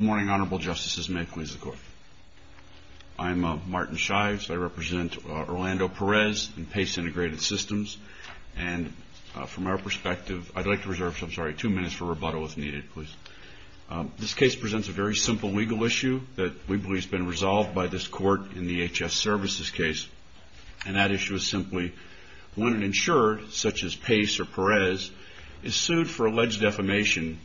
Good morning, Honorable Justices, and may it please the Court. I'm Martin Shives. I represent Orlando Perez and Pace Integrted Systems. And from our perspective, I'd like to reserve two minutes for rebuttal, if needed, please. This case presents a very simple legal issue that we believe has been resolved by this Court in the H.S. Services case, and that issue is simply when an insurer, such as Pace or Perez, is sued for alleged defamation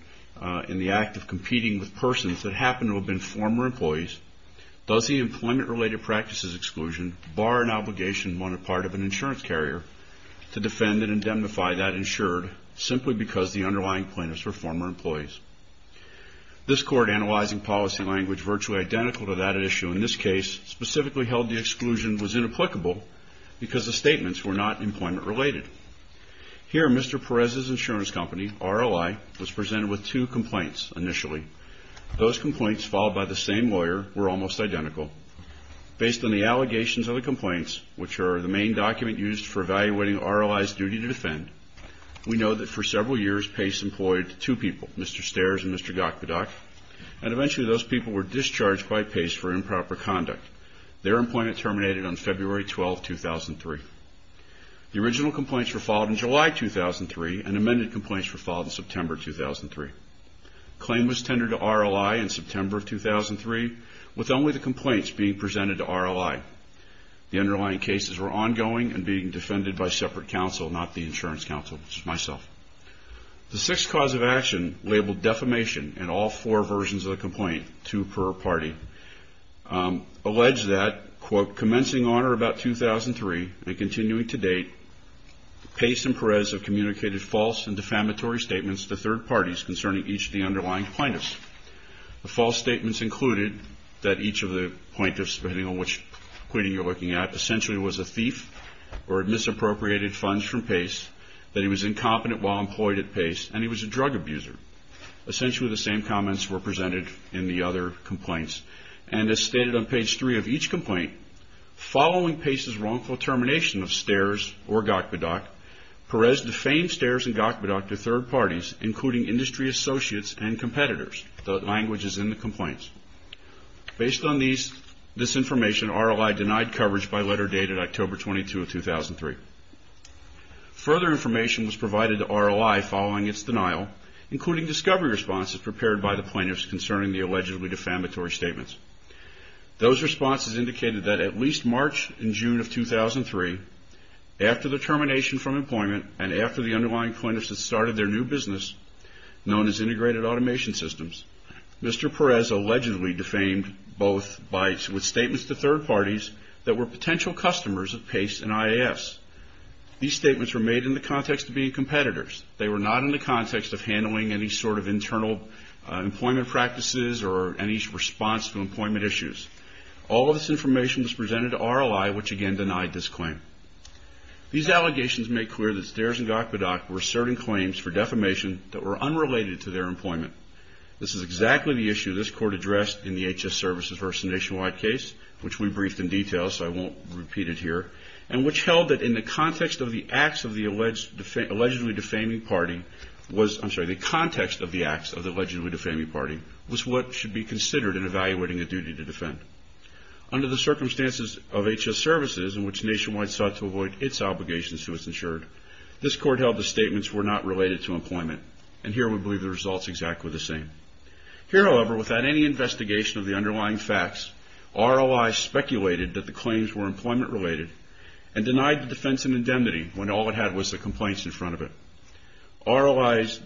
in the act of competing with persons that happen to have been former employees, does the employment-related practices exclusion bar an obligation on the part of an insurance carrier to defend and indemnify that insured simply because the underlying plaintiffs were former employees? This Court, analyzing policy language virtually identical to that at issue in this case, specifically held the exclusion was inapplicable because the statements were not employment-related. Here, Mr. Perez's insurance company, RLI, was presented with two complaints initially. Those complaints, followed by the same lawyer, were almost identical. Based on the allegations of the complaints, which are the main document used for evaluating RLI's duty to defend, we know that for several years, Pace employed two people, Mr. Stairs and Mr. Gakpedak, and eventually those people were discharged by Pace for improper conduct. Their employment terminated on February 12, 2003. The original complaints were filed in July 2003, and amended complaints were filed in September 2003. Claim was tendered to RLI in September of 2003, with only the complaints being presented to RLI. The underlying cases were ongoing and being defended by separate counsel, not the insurance counsel, which is myself. The sixth cause of action, labeled defamation in all four versions of the complaint, two per party, alleged that, quote, commencing on or about 2003 and continuing to date, Pace and Perez have communicated false and defamatory statements to third parties concerning each of the underlying plaintiffs. The false statements included that each of the plaintiffs, depending on which pleading you're looking at, essentially was a thief or had misappropriated funds from Pace, that he was incompetent while employed at Pace, and he was a drug abuser. Essentially the same comments were presented in the other complaints, and as stated on page three of each complaint, following Pace's wrongful termination of Stairs or Gokbidok, Perez defamed Stairs and Gokbidok to third parties, including industry associates and competitors. The language is in the complaints. Based on this information, RLI denied coverage by letter dated October 22 of 2003. Further information was provided to RLI following its denial, including discovery responses prepared by the plaintiffs concerning the allegedly defamatory statements. Those responses indicated that at least March and June of 2003, after the termination from employment and after the underlying plaintiffs had started their new business, known as Integrated Automation Systems, Mr. Perez allegedly defamed both with statements to third parties that were potential customers of Pace and IAS. These statements were made in the context of being competitors. They were not in the context of handling any sort of internal employment practices or any response to employment issues. All of this information was presented to RLI, which again denied this claim. These allegations make clear that Stairs and Gokbidok were asserting claims for defamation that were unrelated to their employment. This is exactly the issue this court addressed in the HS Services v. Nationwide case, which we briefed in detail so I won't repeat it here, and which held that in the context of the acts of the allegedly defaming party was, I'm sorry, the context of the acts of the allegedly defaming party was what should be considered in evaluating a duty to defend. Under the circumstances of HS Services, in which Nationwide sought to avoid its obligations to its insured, this court held the statements were not related to employment. And here we believe the result is exactly the same. Here, however, without any investigation of the underlying facts, RLI speculated that the claims were employment-related and denied the defense and indemnity when all it had was the complaints in front of it. RLI's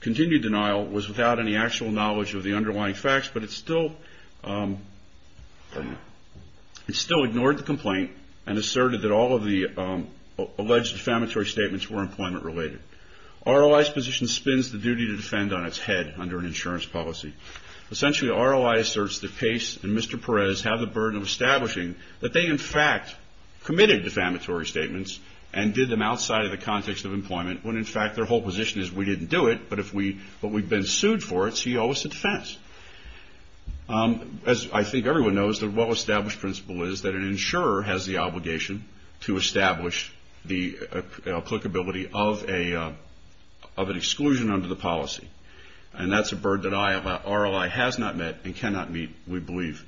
continued denial was without any actual knowledge of the underlying facts, but it still ignored the complaint and asserted that all of the alleged defamatory statements were employment-related. RLI's position spins the duty to defend on its head under an insurance policy. Essentially, RLI asserts that Case and Mr. Perez have the burden of establishing that they, in fact, committed defamatory statements and did them outside of the context of employment when, in fact, their whole position is we didn't do it, but we've been sued for it, so you owe us a defense. As I think everyone knows, the well-established principle is that an insurer has the obligation to establish the applicability of an exclusion under the policy, and that's a burden that RLI has not met and cannot meet, we believe.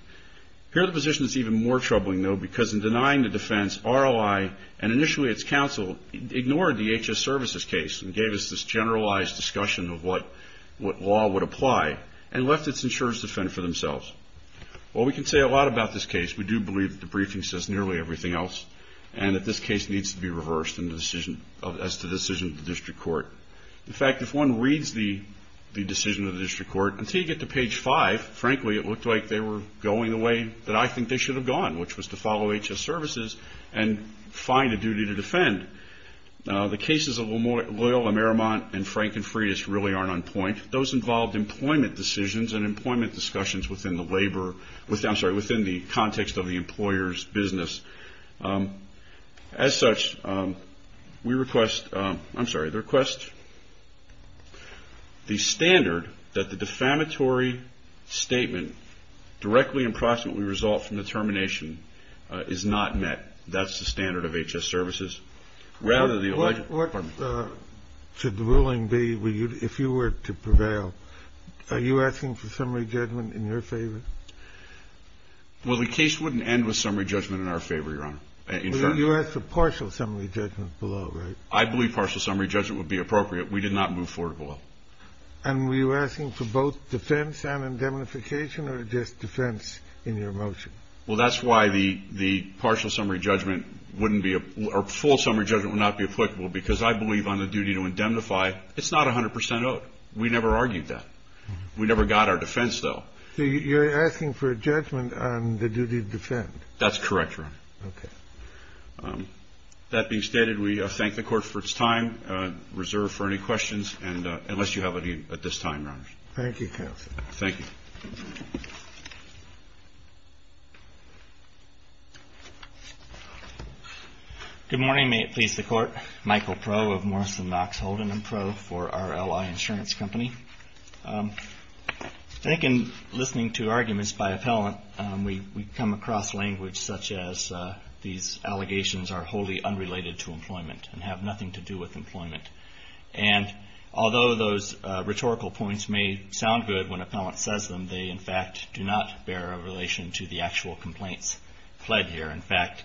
Here the position is even more troubling, though, because in denying the defense, RLI and initially its counsel ignored the HS Services case and gave us this generalized discussion of what law would apply and left its insurers to fend for themselves. Well, we can say a lot about this case. We do believe that the briefing says nearly everything else and that this case needs to be reversed as to the decision of the district court. In fact, if one reads the decision of the district court, until you get to page 5, frankly, it looked like they were going the way that I think they should have gone, which was to follow HS Services and find a duty to defend. The cases of Loyola, Merrimont, and Frank and Freitas really aren't on point. Those involved employment decisions and employment discussions within the labor or, I'm sorry, within the context of the employer's business. As such, we request, I'm sorry, request the standard that the defamatory statement directly and proximately resolved from the termination is not met. That's the standard of HS Services rather than the alleged. What should the ruling be if you were to prevail? Are you asking for summary judgment in your favor? Well, the case wouldn't end with summary judgment in our favor, Your Honor. You asked for partial summary judgment below, right? I believe partial summary judgment would be appropriate. We did not move forward below. And were you asking for both defense and indemnification or just defense in your motion? Well, that's why the partial summary judgment wouldn't be or full summary judgment would not be applicable because I believe on the duty to indemnify, it's not 100 percent owed. We never argued that. We never got our defense, though. So you're asking for a judgment on the duty to defend? That's correct, Your Honor. Okay. That being stated, we thank the Court for its time, reserve for any questions, and unless you have any at this time, Your Honors. Thank you, counsel. Thank you. Good morning. May it please the Court. Michael Proe of Morrison Knox Holden and Proe for RLY Insurance Company. I think in listening to arguments by appellant, we come across language such as these allegations are wholly unrelated to employment and have nothing to do with employment. And although those rhetorical points may sound good when appellant says them, they in fact do not bear a relation to the actual complaints pled here. In fact,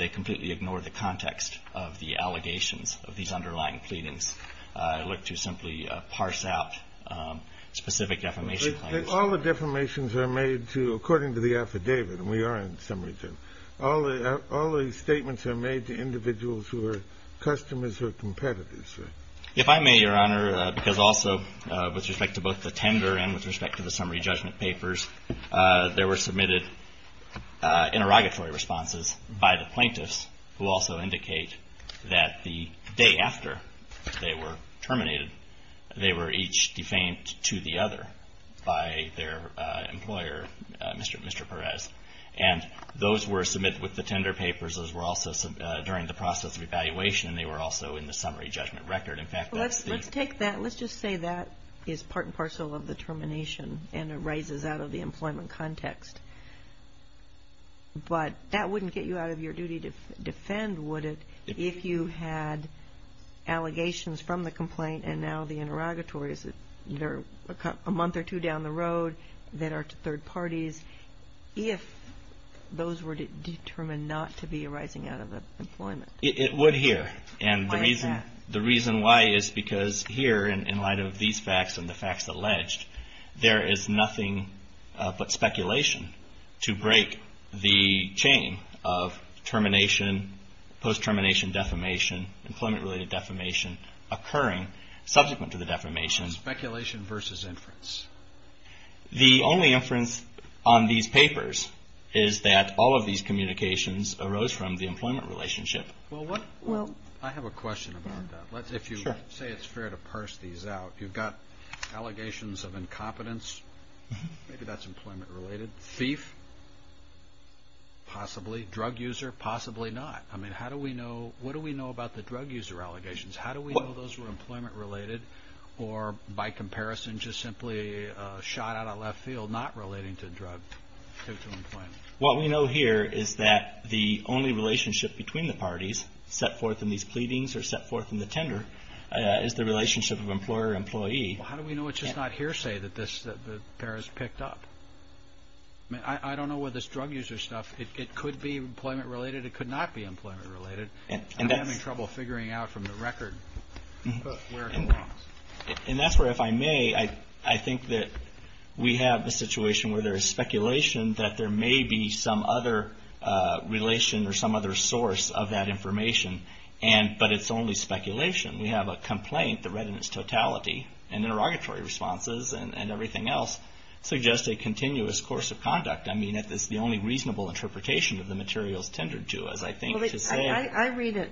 they completely ignore the context of the allegations of these underlying pleadings. I look to simply parse out specific defamation claims. All the defamations are made to according to the affidavit, and we are in some reason. All the statements are made to individuals who are customers or competitors. If I may, Your Honor, because also with respect to both the tender and with respect to the summary judgment papers, there were submitted interrogatory responses by the plaintiffs who also indicate that the day after they were terminated, they were each defamed to the other by their employer, Mr. Perez. And those were submitted with the tender papers. Those were also during the process of evaluation, and they were also in the summary judgment record. Let's take that. Let's just say that is part and parcel of the termination, and it rises out of the employment context. But that wouldn't get you out of your duty to defend, would it, if you had allegations from the complaint and now the interrogatory. Is it a month or two down the road that are to third parties, if those were determined not to be arising out of employment? It would here. And the reason why is because here, in light of these facts and the facts alleged, there is nothing but speculation to break the chain of termination, post-termination defamation, employment-related defamation occurring subsequent to the defamation. Speculation versus inference. The only inference on these papers is that all of these communications arose from the employment relationship. Well, I have a question about that. If you say it's fair to parse these out, you've got allegations of incompetence. Maybe that's employment-related. Thief? Possibly. Drug user? Possibly not. I mean, how do we know? What do we know about the drug user allegations? How do we know those were employment-related or, by comparison, just simply shot out of left field, not relating to drug employment? What we know here is that the only relationship between the parties set forth in these pleadings or set forth in the tender is the relationship of employer-employee. How do we know it's just not hearsay that this pair is picked up? I mean, I don't know where this drug user stuff, it could be employment-related, it could not be employment-related. I'm having trouble figuring out from the record where it belongs. And that's where, if I may, I think that we have a situation where there is speculation that there may be some other relation or some other source of that information, but it's only speculation. We have a complaint that read in its totality, and interrogatory responses and everything else suggest a continuous course of conduct. I mean, that's the only reasonable interpretation of the materials tendered to us, I think, to say. I read it.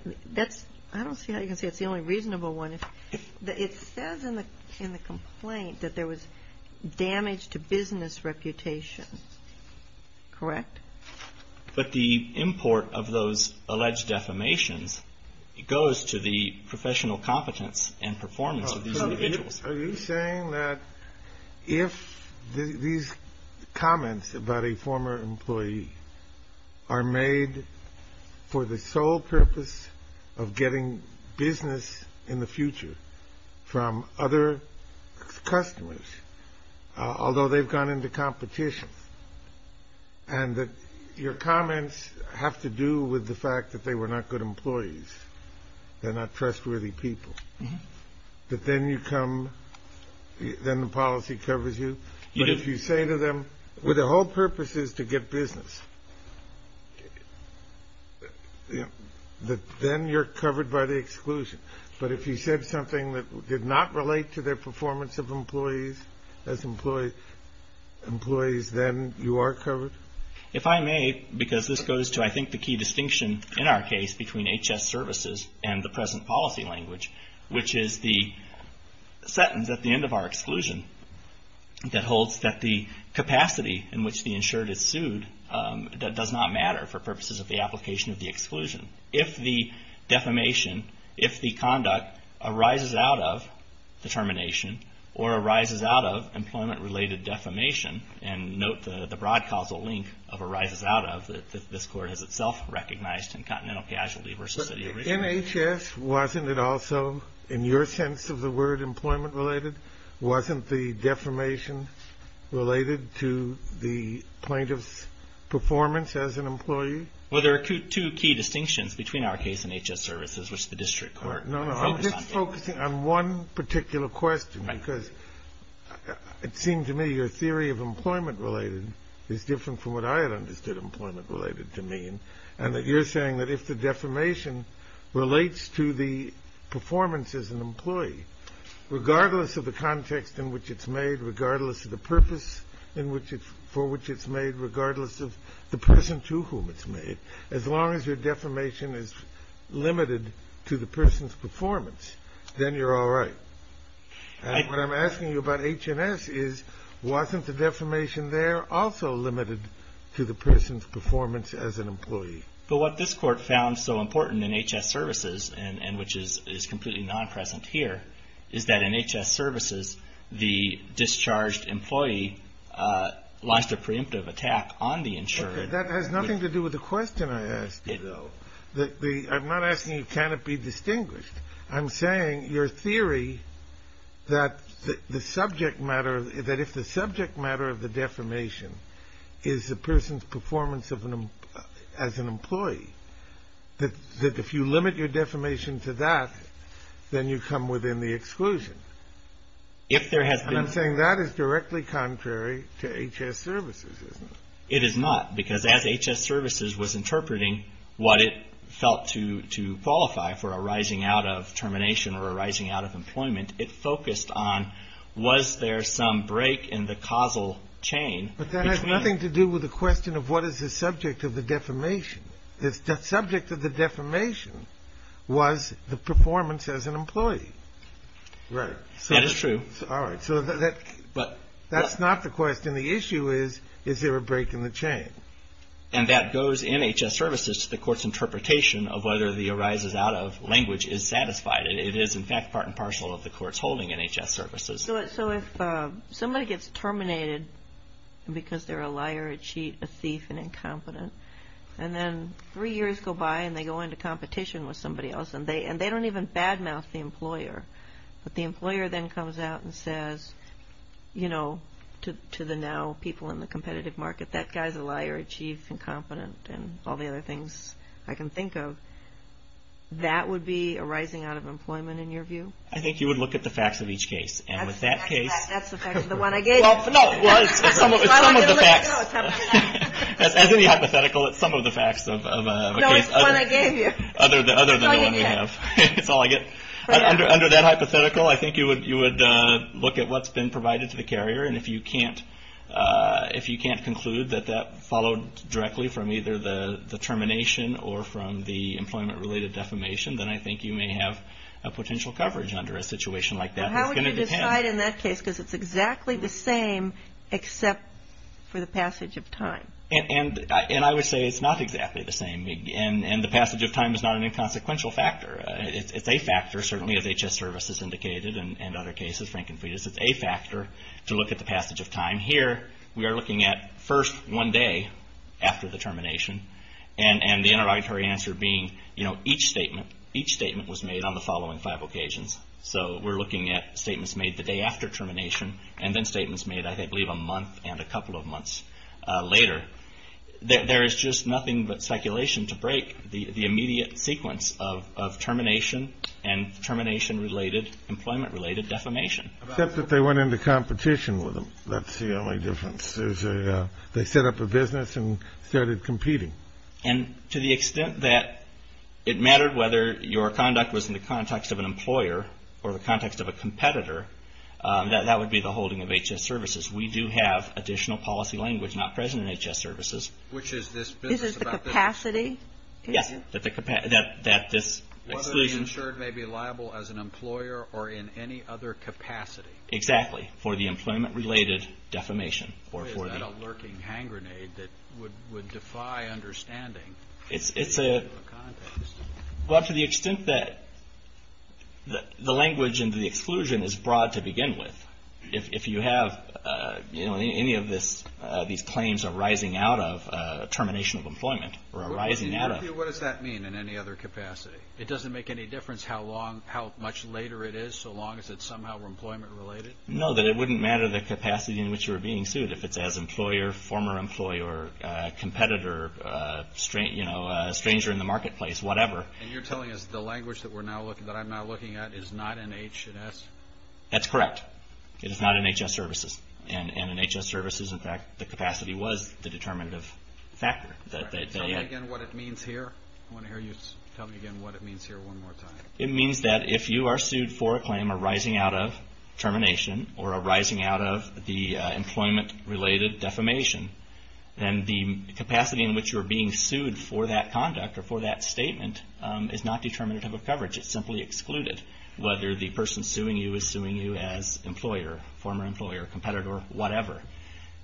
I don't see how you can say it's the only reasonable one. It says in the complaint that there was damage to business reputation. Correct? But the import of those alleged defamations goes to the professional competence and performance of these individuals. Are you saying that if these comments about a former employee are made for the sole purpose of getting business in the future from other customers, although they've gone into competition, and that your comments have to do with the fact that they were not good employees, they're not trustworthy people, that then you come, then the policy covers you? But if you say to them, well, the whole purpose is to get business, then you're covered by the exclusion. But if you said something that did not relate to their performance of employees, as employees, then you are covered? If I may, because this goes to, I think, the key distinction in our case between HS services and the present policy language, which is the sentence at the end of our exclusion that holds that the capacity in which the insured is sued does not matter for purposes of the application of the exclusion. If the defamation, if the conduct arises out of the termination or arises out of employment-related defamation, and note the broad causal link of arises out of, that this court has itself recognized in continental casualty versus city origin. But in HS, wasn't it also, in your sense of the word employment-related, wasn't the defamation related to the plaintiff's performance as an employee? Well, there are two key distinctions between our case and HS services, which the district court focused on. No, no, I'm just focusing on one particular question, because it seemed to me your theory of employment-related is different from what I had understood employment-related to mean, and that you're saying that if the defamation relates to the performance as an employee, regardless of the context in which it's made, regardless of the purpose for which it's made, regardless of the person to whom it's made, as long as your defamation is limited to the person's performance, then you're all right. What I'm asking you about HNS is, wasn't the defamation there also limited to the person's performance as an employee? But what this court found so important in HS services, and which is completely non-present here, is that in HS services, the discharged employee launched a preemptive attack on the insured. That has nothing to do with the question I asked you, though. I'm not asking you can it be distinguished. I'm saying your theory that if the subject matter of the defamation is the person's performance as an employee, that if you limit your defamation to that, then you come within the exclusion. And I'm saying that is directly contrary to HS services, isn't it? It is not. Because as HS services was interpreting what it felt to qualify for a rising out of termination or a rising out of employment, it focused on was there some break in the causal chain. But that has nothing to do with the question of what is the subject of the defamation. The subject of the defamation was the performance as an employee. Right. That is true. All right. So that's not the question. The question and the issue is, is there a break in the chain? And that goes in HS services to the court's interpretation of whether the arises out of language is satisfied. It is, in fact, part and parcel of the court's holding in HS services. So if somebody gets terminated because they're a liar, a cheat, a thief, an incompetent, and then three years go by and they go into competition with somebody else and they don't even bad mouth the employer, but the employer then comes out and says, you know, to the now people in the competitive market, that guy's a liar, a cheat, incompetent, and all the other things I can think of, that would be a rising out of employment in your view? I think you would look at the facts of each case. And with that case. That's the fact of the one I gave you. Well, no. Well, it's some of the facts. As any hypothetical, it's some of the facts of a case. No, it's the one I gave you. Other than the one we have. It's all I get. Under that hypothetical, I think you would look at what's been provided to the carrier. And if you can't conclude that that followed directly from either the termination or from the employment-related defamation, then I think you may have a potential coverage under a situation like that. How would you decide in that case? Because it's exactly the same except for the passage of time. And I would say it's not exactly the same. And the passage of time is not an inconsequential factor. It's a factor, certainly, as HS Services indicated and other cases, Frank and Freitas. It's a factor to look at the passage of time. Here, we are looking at first one day after the termination. And the interrogatory answer being, you know, each statement. Each statement was made on the following five occasions. So we're looking at statements made the day after termination and then statements made, I believe, a month and a couple of months later. There is just nothing but speculation to break the immediate sequence of termination and termination-related, employment-related defamation. Except that they went into competition with them. That's the only difference. They set up a business and started competing. And to the extent that it mattered whether your conduct was in the context of an employer or the context of a competitor, that would be the holding of HS Services. We do have additional policy language not present in HS Services. This is the capacity? Yes. Whether the insured may be liable as an employer or in any other capacity. Exactly. For the employment-related defamation. Or is that a lurking hand grenade that would defy understanding? Well, to the extent that the language and the exclusion is broad to begin with, if you have any of these claims arising out of termination of employment or arising out of. What does that mean in any other capacity? It doesn't make any difference how much later it is so long as it's somehow employment-related? No, that it wouldn't matter the capacity in which you were being sued. If it's as employer, former employer, competitor, stranger in the marketplace, whatever. And you're telling us the language that I'm now looking at is not in HS? That's correct. It is not in HS Services. And in HS Services, in fact, the capacity was the determinative factor. Tell me again what it means here. I want to hear you tell me again what it means here one more time. It means that if you are sued for a claim arising out of termination or arising out of the employment-related defamation, then the capacity in which you are being sued for that conduct or for that statement is not determinative of coverage. It's simply excluded. Whether the person suing you is suing you as employer, former employer, competitor, whatever.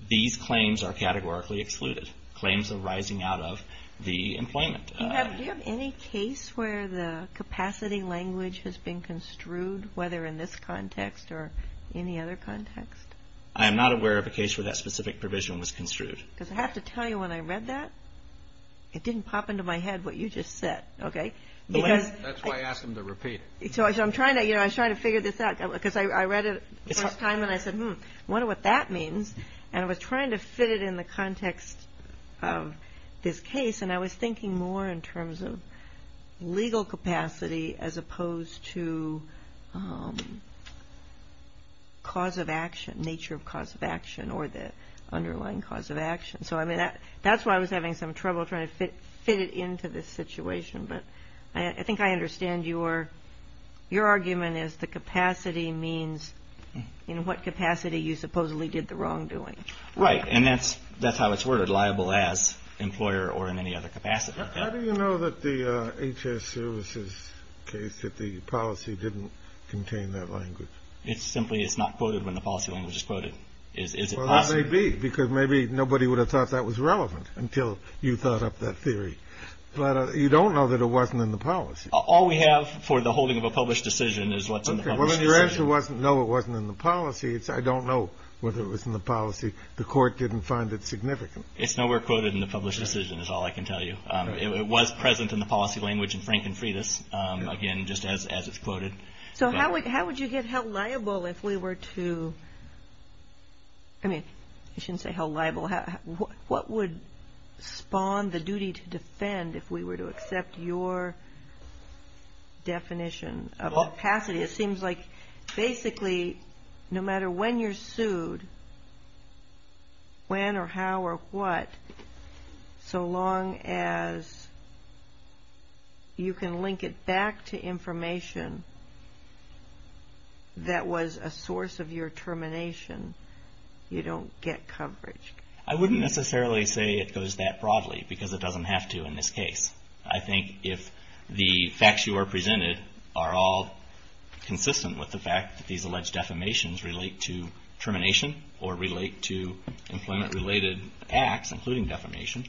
These claims are categorically excluded. Claims arising out of the employment. Do you have any case where the capacity language has been construed, whether in this context or any other context? I am not aware of a case where that specific provision was construed. Because I have to tell you when I read that, it didn't pop into my head what you just said, okay? That's why I asked him to repeat it. So I was trying to figure this out because I read it the first time and I said, hmm, I wonder what that means. And I was trying to fit it in the context of this case and I was thinking more in terms of legal capacity as opposed to cause of action, nature of cause of action or the underlying cause of action. So that's why I was having some trouble trying to fit it into this situation. But I think I understand your argument is the capacity means, you know, what capacity you supposedly did the wrongdoing. Right. And that's how it's worded, liable as employer or in any other capacity. How do you know that the HS services case, that the policy didn't contain that language? It's simply it's not quoted when the policy language is quoted. Is it possible? Well, that may be because maybe nobody would have thought that was relevant until you thought up that theory. But you don't know that it wasn't in the policy. All we have for the holding of a published decision is what's in the published decision. Well, if your answer wasn't no, it wasn't in the policy. I don't know whether it was in the policy. The court didn't find it significant. It's nowhere quoted in the published decision is all I can tell you. It was present in the policy language in Frank and Frieda's, again, just as it's quoted. So how would you get held liable if we were to, I mean, I shouldn't say held liable. What would spawn the duty to defend if we were to accept your definition of capacity? It seems like basically no matter when you're sued, when or how or what, so long as you can link it back to information that was a source of your termination, you don't get coverage. I wouldn't necessarily say it goes that broadly because it doesn't have to in this case. I think if the facts you are presented are all consistent with the fact that these alleged defamations relate to termination or relate to employment-related acts, including defamation,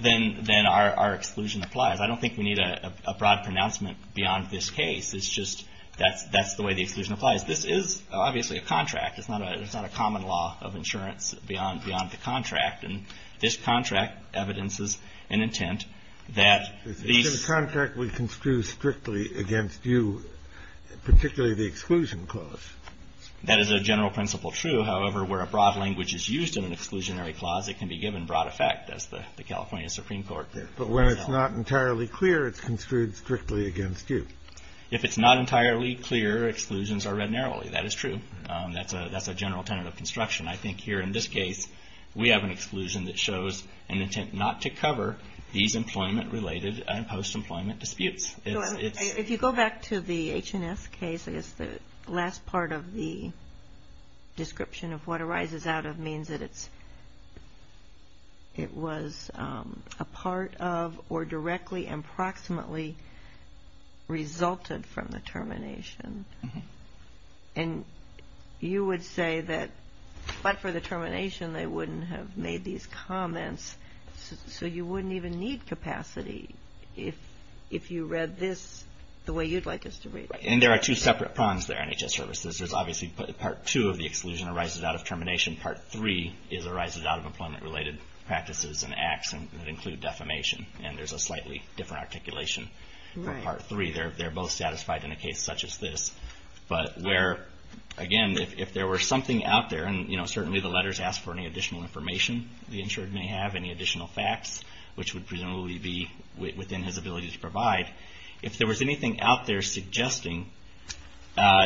then our exclusion applies. I don't think we need a broad pronouncement beyond this case. It's just that's the way the exclusion applies. This is obviously a contract. It's not a common law of insurance beyond the contract. And this contract evidences an intent that these — The contract would construe strictly against you, particularly the exclusion clause. That is a general principle true. However, where a broad language is used in an exclusionary clause, it can be given broad effect. That's the California Supreme Court. But when it's not entirely clear, it's construed strictly against you. If it's not entirely clear, exclusions are read narrowly. That is true. That's a general tenet of construction. I think here in this case, we have an exclusion that shows an intent not to cover these employment-related and post-employment disputes. If you go back to the H&S case, I guess the last part of the description of what arises out of means that it's — it was a part of or directly and proximately resulted from the termination. And you would say that but for the termination, they wouldn't have made these comments. So you wouldn't even need capacity if you read this the way you'd like us to read it. And there are two separate prongs there in HHS services. There's obviously part two of the exclusion arises out of termination. Part three arises out of employment-related practices and acts that include defamation. And there's a slightly different articulation for part three. They're both satisfied in a case such as this. But where, again, if there were something out there, and certainly the letters ask for any additional information the insured may have, any additional facts, which would presumably be within his ability to provide. If there was anything out there suggesting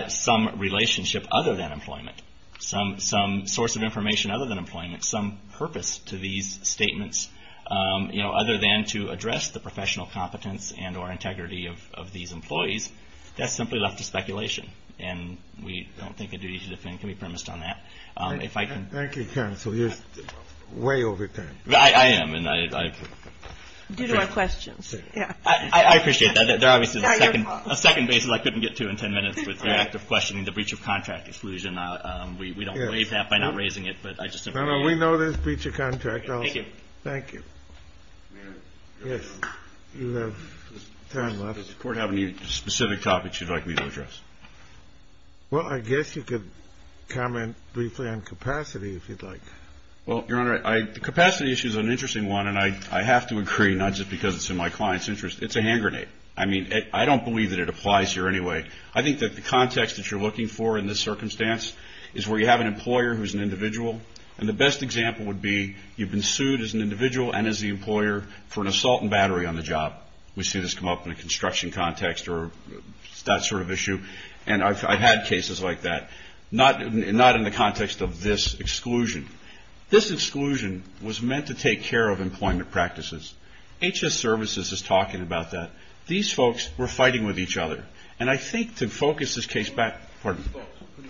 some relationship other than employment, some source of information other than employment, some purpose to these statements, other than to address the professional competence and or integrity of these employees, that's simply left to speculation. And we don't think a duty to defend can be premised on that. If I can. Thank you, counsel. You're way over time. I am. Due to our questions. I appreciate that. There obviously is a second basis I couldn't get to in 10 minutes with the act of questioning the breach of contract exclusion. We don't waive that by not raising it. No, no. We know there's breach of contract. Thank you. Thank you. Yes. You have time left. Does the Court have any specific topics you'd like me to address? Well, I guess you could comment briefly on capacity, if you'd like. Well, Your Honor, the capacity issue is an interesting one, and I have to agree, not just because it's in my client's interest. It's a hand grenade. I mean, I don't believe that it applies here anyway. I think that the context that you're looking for in this circumstance is where you have an employer who's an individual, and the best example would be you've been sued as an individual and as the employer for an assault and battery on the job. We see this come up in a construction context or that sort of issue. And I've had cases like that, not in the context of this exclusion. This exclusion was meant to take care of employment practices. HS Services is talking about that. These folks were fighting with each other. And I think to focus this case back – pardon me.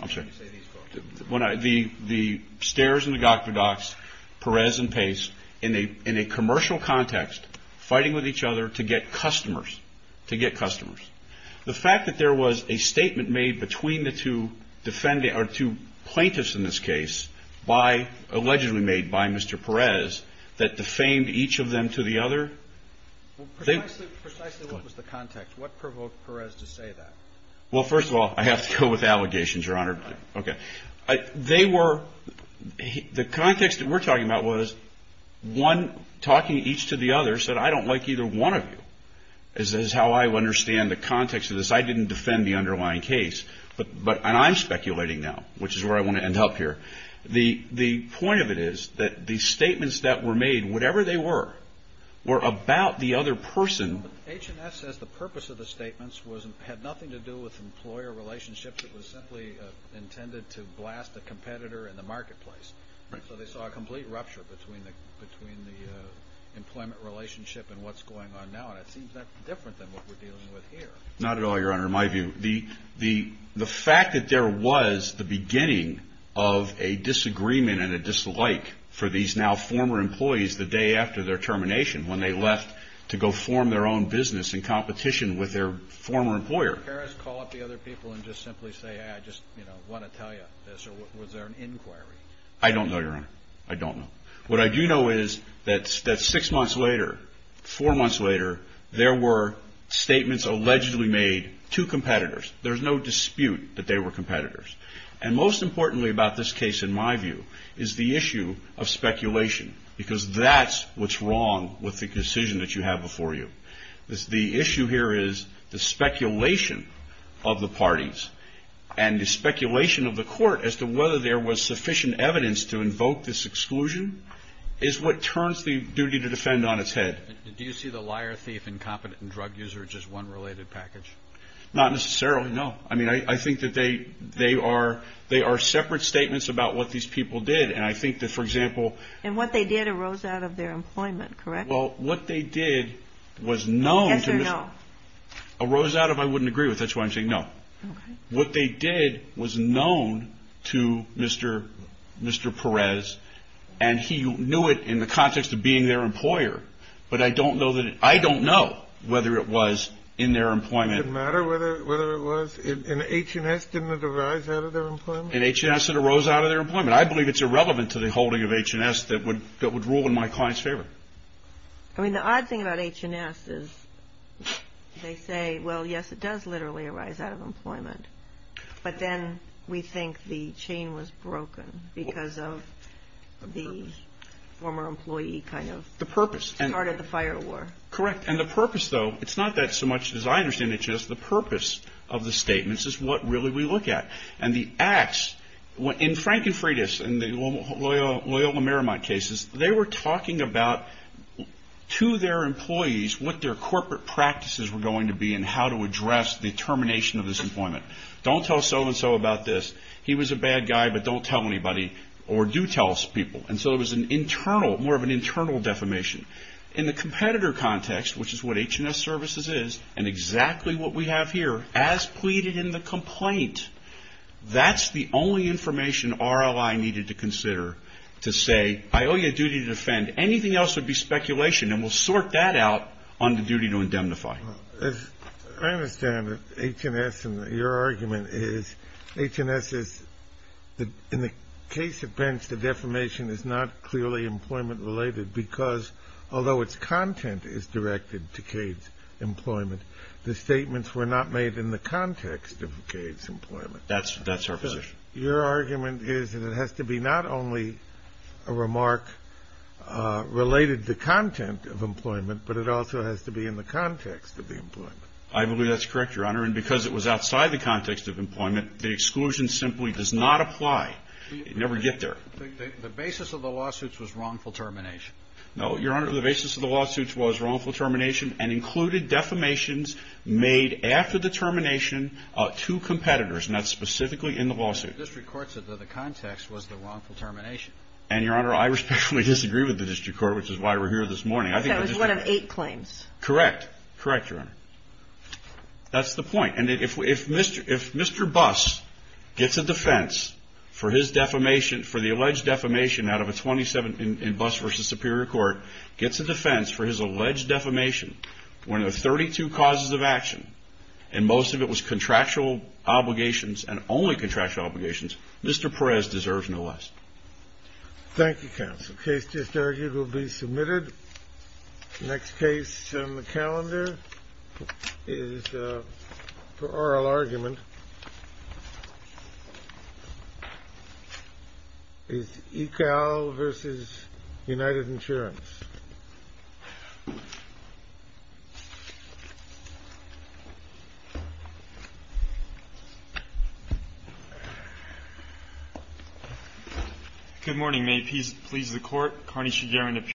I'm sorry. The Stairs and the Gokvadox, Perez and Pace, in a commercial context, fighting with each other to get customers, to get customers. The fact that there was a statement made between the two plaintiffs in this case, allegedly made by Mr. Perez, that defamed each of them to the other. Precisely what was the context? What provoked Perez to say that? Well, first of all, I have to go with allegations, Your Honor. Okay. They were – the context that we're talking about was one talking each to the other said, I don't like either one of you. This is how I understand the context of this. I didn't defend the underlying case. And I'm speculating now, which is where I want to end up here. The point of it is that the statements that were made, whatever they were, were about the other person. H&S says the purpose of the statements had nothing to do with employer relationships. It was simply intended to blast a competitor in the marketplace. Right. So they saw a complete rupture between the employment relationship and what's going on now. And it seems that's different than what we're dealing with here. Not at all, Your Honor. In my view, the fact that there was the beginning of a disagreement and a dislike for these now former employees the day after their termination, when they left to go form their own business in competition with their former employer. Did Harris call up the other people and just simply say, I just want to tell you this, or was there an inquiry? I don't know, Your Honor. I don't know. What I do know is that six months later, four months later, there were statements allegedly made to competitors. There's no dispute that they were competitors. And most importantly about this case, in my view, is the issue of speculation, because that's what's wrong with the decision that you have before you. The issue here is the speculation of the parties, and the speculation of the court as to whether there was sufficient evidence to invoke this exclusion is what turns the duty to defend on its head. Do you see the liar, thief, incompetent, and drug user as just one related package? Not necessarily, no. I mean, I think that they are separate statements about what these people did. And I think that, for example. And what they did arose out of their employment, correct? Well, what they did was known. Yes or no? Arose out of, I wouldn't agree with. That's why I'm saying no. Okay. What they did was known to Mr. Perez, and he knew it in the context of being their employer. But I don't know whether it was in their employment. It didn't matter whether it was? In H&S, didn't it arise out of their employment? In H&S, it arose out of their employment. I believe it's irrelevant to the holding of H&S that would rule in my client's favor. I mean, the odd thing about H&S is they say, well, yes, it does literally arise out of employment. But then we think the chain was broken because of the former employee kind of. The purpose. Started the fire war. Correct. And the purpose, though, it's not that so much, as I understand it, just the purpose of the statements is what really we look at. And the acts, in Frank and Freda's and Loyola Maramont cases, they were talking about to their employees what their corporate practices were going to be and how to address the termination of this employment. Don't tell so-and-so about this. He was a bad guy, but don't tell anybody. Or do tell people. And so it was an internal, more of an internal defamation. In the competitor context, which is what H&S Services is, and exactly what we have here, as pleaded in the complaint, that's the only information RLI needed to consider to say, I owe you a duty to defend. Anything else would be speculation, and we'll sort that out on the duty to indemnify. As I understand it, H&S, and your argument is H&S is, in the case of Bench, the defamation is not clearly employment-related because, although its content is directed to Cade's employment, the statements were not made in the context of Cade's employment. That's our position. Your argument is that it has to be not only a remark related to content of employment, but it also has to be in the context of the employment. I believe that's correct, Your Honor. And because it was outside the context of employment, the exclusion simply does not apply. You never get there. The basis of the lawsuits was wrongful termination. No, Your Honor. The basis of the lawsuits was wrongful termination and included defamations made after the termination to competitors, and that's specifically in the lawsuit. The district court said that the context was the wrongful termination. And, Your Honor, I respectfully disagree with the district court, which is why we're here this morning. So it was one of eight claims. Correct. Correct, Your Honor. That's the point. And if Mr. Buss gets a defense for his defamation, for the alleged defamation out of a 27 in Buss v. Superior Court, gets a defense for his alleged defamation when there are 32 causes of action and most of it was contractual obligations and only contractual obligations, Mr. Perez deserves no less. Thank you, counsel. The case just argued will be submitted. The next case on the calendar is for oral argument. It's ECAL v. United Insurance. Good morning. May it please the Court. Connie Shugaring appears.